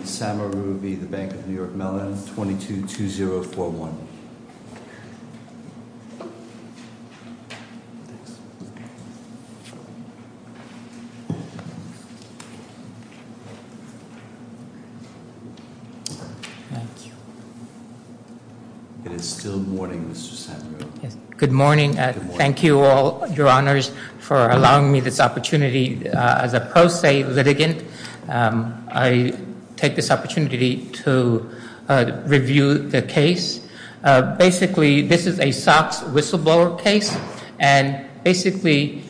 22-2041. It is still morning, Mr. Samaroo. Good morning. Thank you all, your honors, for allowing me this opportunity as a pro se litigant. I take this opportunity to review the case. Basically, this is a SOX whistleblower case. And basically,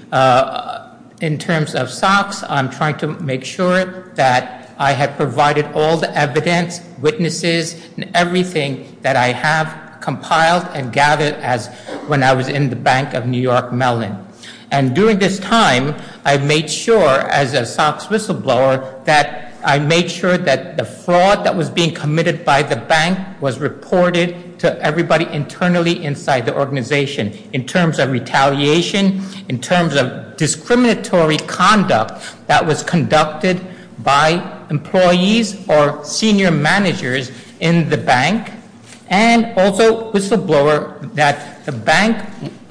in terms of SOX, I'm trying to make sure that I have provided all the evidence, witnesses, and everything that I have compiled and gathered as when I was in the Bank of New York Mellon. And during this time, I made sure as a SOX whistleblower that I made sure that the fraud that was being committed by the bank was reported to everybody internally inside the organization in terms of retaliation, in terms of discriminatory conduct that was conducted by employees or senior managers in the bank, and also whistleblower that the bank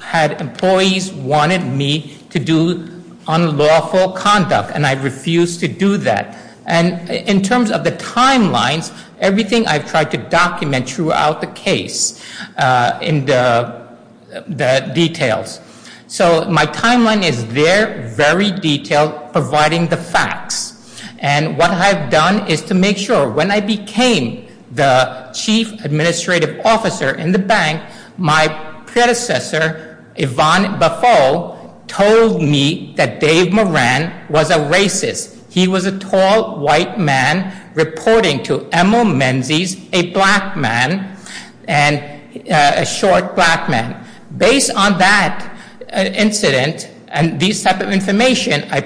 had employees wanted me to do unlawful conduct, and I refused to do that. And in terms of the timelines, everything I've tried to document throughout the case in the details. So my timeline is there, very detailed, providing the facts. And what I've done is to make sure when I became the chief administrative officer in the bank, my predecessor, Yvonne Buffo, told me that Dave Moran was a racist. He was a tall, white man reporting to Emil Menzies, a black man, a short black man. Based on that incident and this type of information, I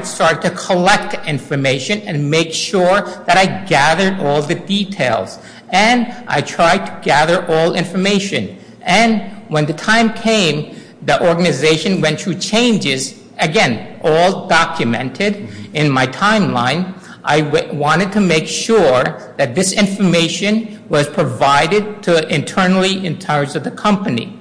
started to collect information and make sure that I gathered all the details. And I tried to gather all information. And when the time came, the organization went through changes, again, all documented in my timeline. I wanted to make sure that this information was provided internally in terms of the company.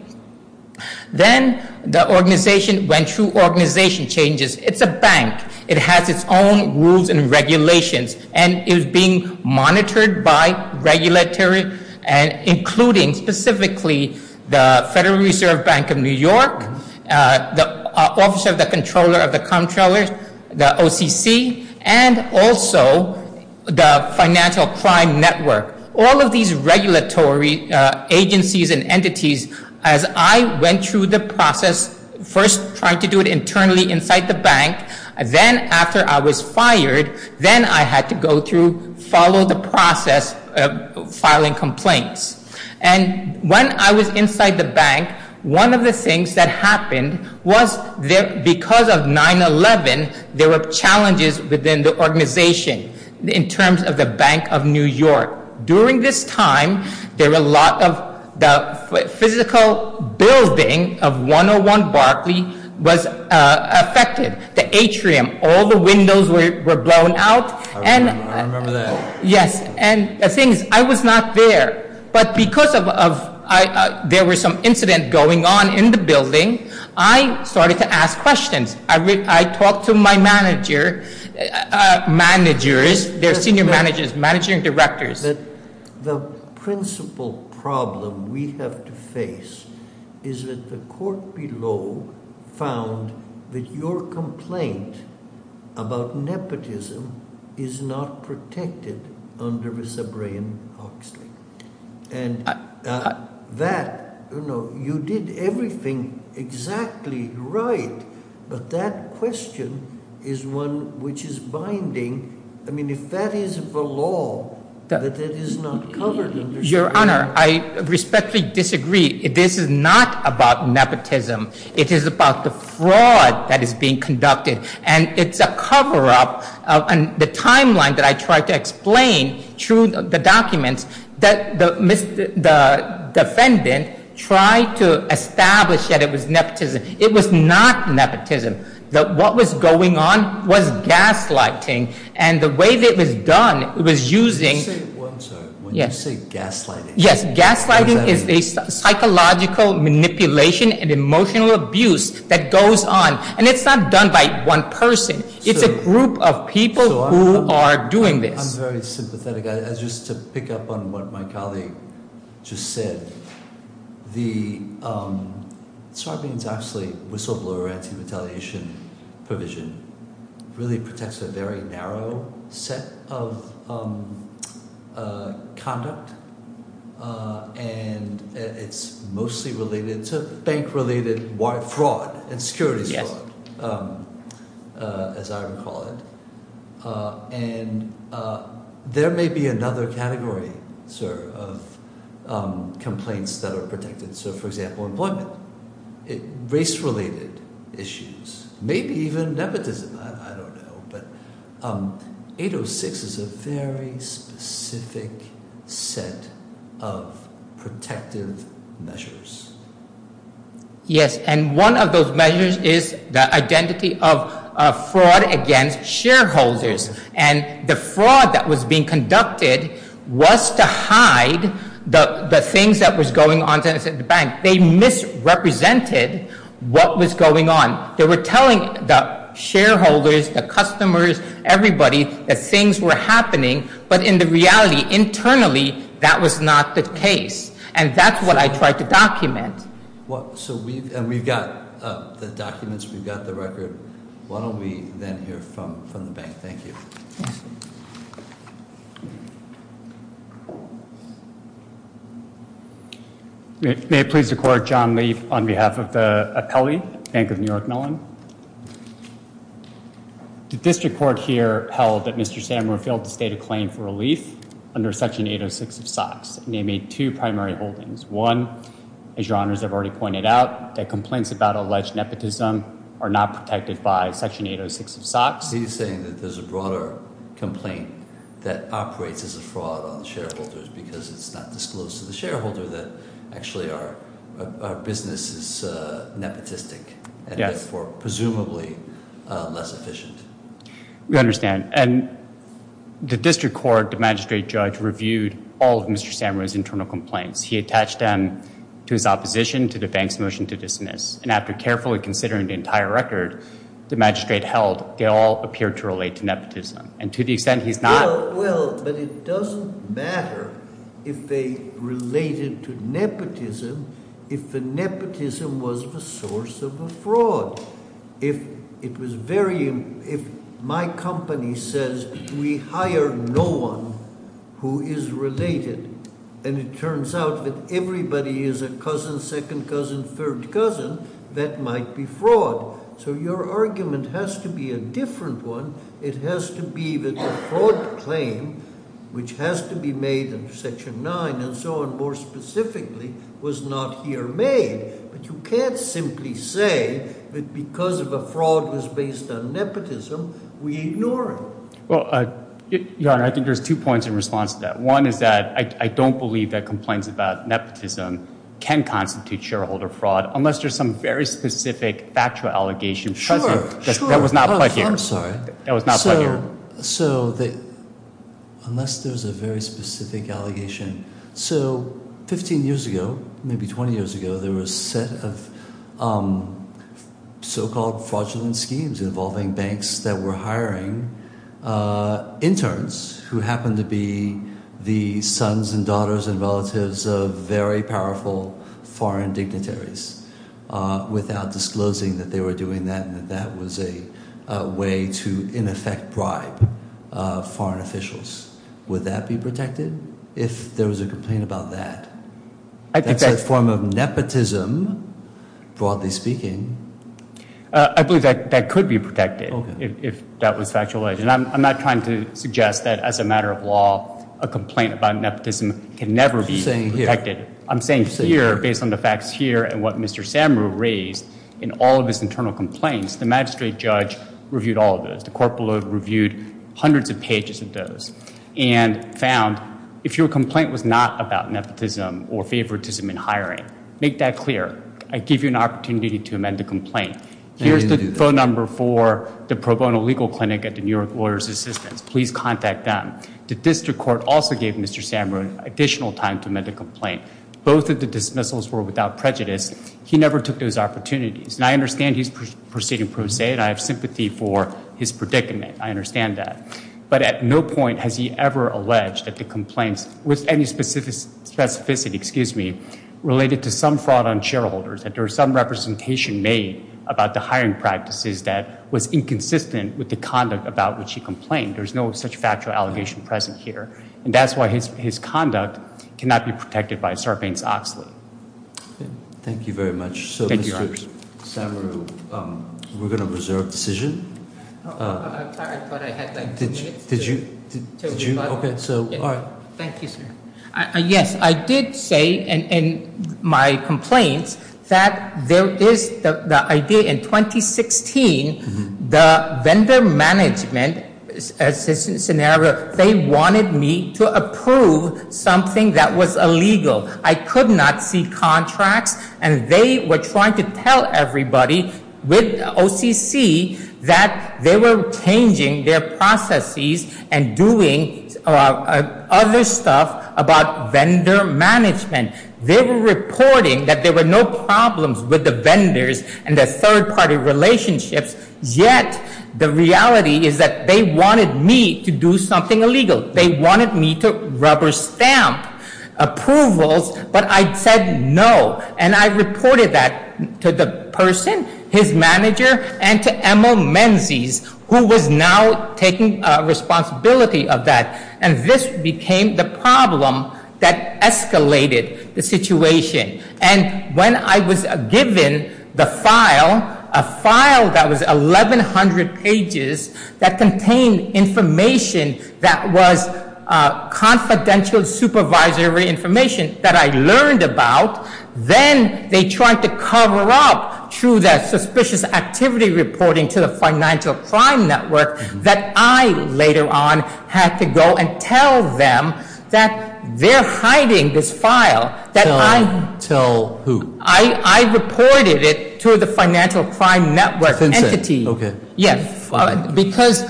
Then the organization went through organization changes. It's a bank. It has its own rules and regulations. And it was being monitored by regulatory, including specifically the Federal Reserve Bank of New York, the Office of the Comptroller of the Comptroller, the OCC, and also the Financial Crime Network. All of these regulatory agencies and entities, as I went through the process, first trying to do it internally inside the bank, then after I was fired, then I had to go through, follow the process of filing complaints. And when I was inside the bank, one of the things that happened was because of 9-11, there were challenges within the organization in terms of the Bank of New York. During this time, there were a lot of the physical building of 101 Barclay was affected. The atrium, all the windows were blown out. I remember that. Yes, and the thing is, I was not there. But because there was some incident going on in the building, I started to ask questions. I talked to my managers, their senior managers, managing directors. The principal problem we have to face is that the court below found that your complaint about nepotism is not protected under the Sabrean-Hoxley. And that, you know, you did everything exactly right, but that question is one which is binding. I mean, if that is the law, that it is not covered under Sabrean-Hoxley. Your Honor, I respectfully disagree. This is not about nepotism. It is about the fraud that is being conducted. And it's a cover-up of the timeline that I tried to explain through the documents that the defendant tried to establish that it was nepotism. It was not nepotism. What was going on was gaslighting. And the way that it was done, it was using- When you say one term, when you say gaslighting- Yes, gaslighting is a psychological manipulation and emotional abuse that goes on. And it's not done by one person. It's a group of people who are doing this. I'm very sympathetic. Just to pick up on what my colleague just said, the Sabrean-Hoxley whistleblower anti-retaliation provision really protects a very narrow set of conduct. And it's mostly related to bank-related fraud and security fraud, as I would call it. And there may be another category, sir, of complaints that are protected. So, for example, employment, race-related issues, maybe even nepotism. I don't know. But 806 is a very specific set of protective measures. Yes, and one of those measures is the identity of fraud against shareholders. And the fraud that was being conducted was to hide the things that was going on inside the bank. They misrepresented what was going on. They were telling the shareholders, the customers, everybody that things were happening. But in the reality, internally, that was not the case. And that's what I tried to document. And we've got the documents. We've got the record. Why don't we then hear from the bank? Thank you. May it please the Court, John Leaf on behalf of the appellee, Bank of New York Mellon. The district court here held that Mr. Sandler failed to state a claim for relief under Section 806 of SOX. And they made two primary holdings. One, as your honors have already pointed out, that complaints about alleged nepotism are not protected by Section 806 of SOX. He's saying that there's a broader complaint that operates as a fraud on the shareholders because it's not disclosed to the shareholder that actually our business is nepotistic. And, therefore, presumably less efficient. We understand. And the district court, the magistrate judge, reviewed all of Mr. Sandler's internal complaints. He attached them to his opposition to the bank's motion to dismiss. And after carefully considering the entire record the magistrate held, they all appeared to relate to nepotism. And to the extent he's not— Well, well, but it doesn't matter if they related to nepotism if the nepotism was the source of the fraud. If it was very—if my company says we hire no one who is related and it turns out that everybody is a cousin, second cousin, third cousin, that might be fraud. So your argument has to be a different one. It has to be that the fraud claim, which has to be made under Section 9 and so on more specifically, was not here made. But you can't simply say that because of a fraud that's based on nepotism, we ignore it. Well, Your Honor, I think there's two points in response to that. One is that I don't believe that complaints about nepotism can constitute shareholder fraud unless there's some very specific factual allegation present. Sure, sure. I'm sorry. It was not put here. So they—unless there's a very specific allegation. So 15 years ago, maybe 20 years ago, there were a set of so-called fraudulent schemes involving banks that were hiring interns who happened to be the sons and daughters and relatives of very powerful foreign dignitaries without disclosing that they were doing that and that that was a way to, in effect, bribe foreign officials. Would that be protected if there was a complaint about that? I think that's— That's a form of nepotism, broadly speaking. I believe that that could be protected if that was factual. And I'm not trying to suggest that as a matter of law, a complaint about nepotism can never be protected. You're saying here. Based on the facts here and what Mr. Samaru raised in all of his internal complaints, the magistrate judge reviewed all of those. The court below reviewed hundreds of pages of those and found if your complaint was not about nepotism or favoritism in hiring, make that clear. I give you an opportunity to amend the complaint. Here's the phone number for the pro bono legal clinic at the New York Lawyers Assistance. Please contact them. The district court also gave Mr. Samaru additional time to amend the complaint. Both of the dismissals were without prejudice. He never took those opportunities. And I understand he's proceeding pro se, and I have sympathy for his predicament. I understand that. But at no point has he ever alleged that the complaints with any specificity—excuse me—related to some fraud on shareholders, that there was some representation made about the hiring practices that was inconsistent with the conduct about which he complained. There's no such factual allegation present here. And that's why his conduct cannot be protected by Sarbanes-Oxley. Thank you very much. Thank you, Your Honor. So, Mr. Samaru, we're going to reserve decision. I'm sorry, but I had like two minutes. Did you? Okay, so, all right. Thank you, sir. Yes, I did say in my complaints that there is the idea in 2016, the vendor management assistance scenario, they wanted me to approve something that was illegal. I could not see contracts, and they were trying to tell everybody with OCC that they were changing their processes and doing other stuff about vendor management. They were reporting that there were no problems with the vendors and their third-party relationships, yet the reality is that they wanted me to do something illegal. They wanted me to rubber stamp approvals, but I said no. And I reported that to the person, his manager, and to Emil Menzies, who was now taking responsibility of that. And this became the problem that escalated the situation. And when I was given the file, a file that was 1,100 pages that contained information that was confidential supervisory information that I learned about, then they tried to cover up through that suspicious activity reporting to the financial crime network that I later on had to go and tell them that they're hiding this file. Tell who? I reported it to the financial crime network entity. FinCEN, okay. Yes, because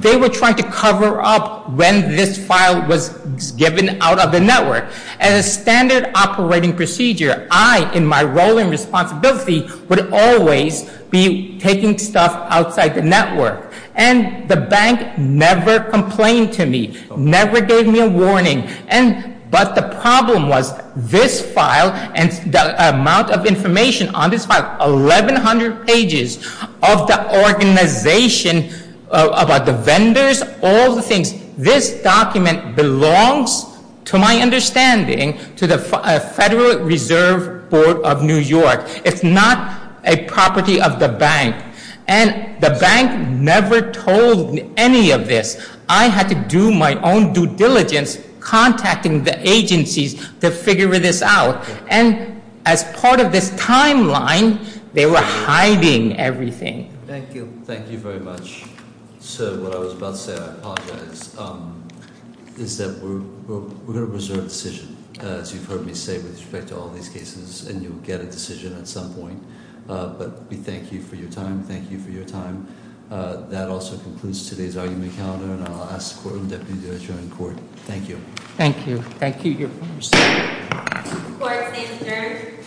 they were trying to cover up when this file was given out of the network. As a standard operating procedure, I, in my role and responsibility, would always be taking stuff outside the network. And the bank never complained to me, never gave me a warning. But the problem was this file and the amount of information on this file, 1,100 pages of the organization about the vendors, all the things. This document belongs, to my understanding, to the Federal Reserve Board of New York. It's not a property of the bank. And the bank never told me any of this. I had to do my own due diligence contacting the agencies to figure this out. And as part of this timeline, they were hiding everything. Thank you. Thank you very much. Sir, what I was about to say, I apologize, is that we're going to reserve a decision, as you've heard me say, with respect to all these cases. And you'll get a decision at some point. But we thank you for your time. Thank you for your time. That also concludes today's argument calendar. And I'll ask the Courtroom Deputy Director in Court. Thank you. Thank you. Thank you. Court is adjourned.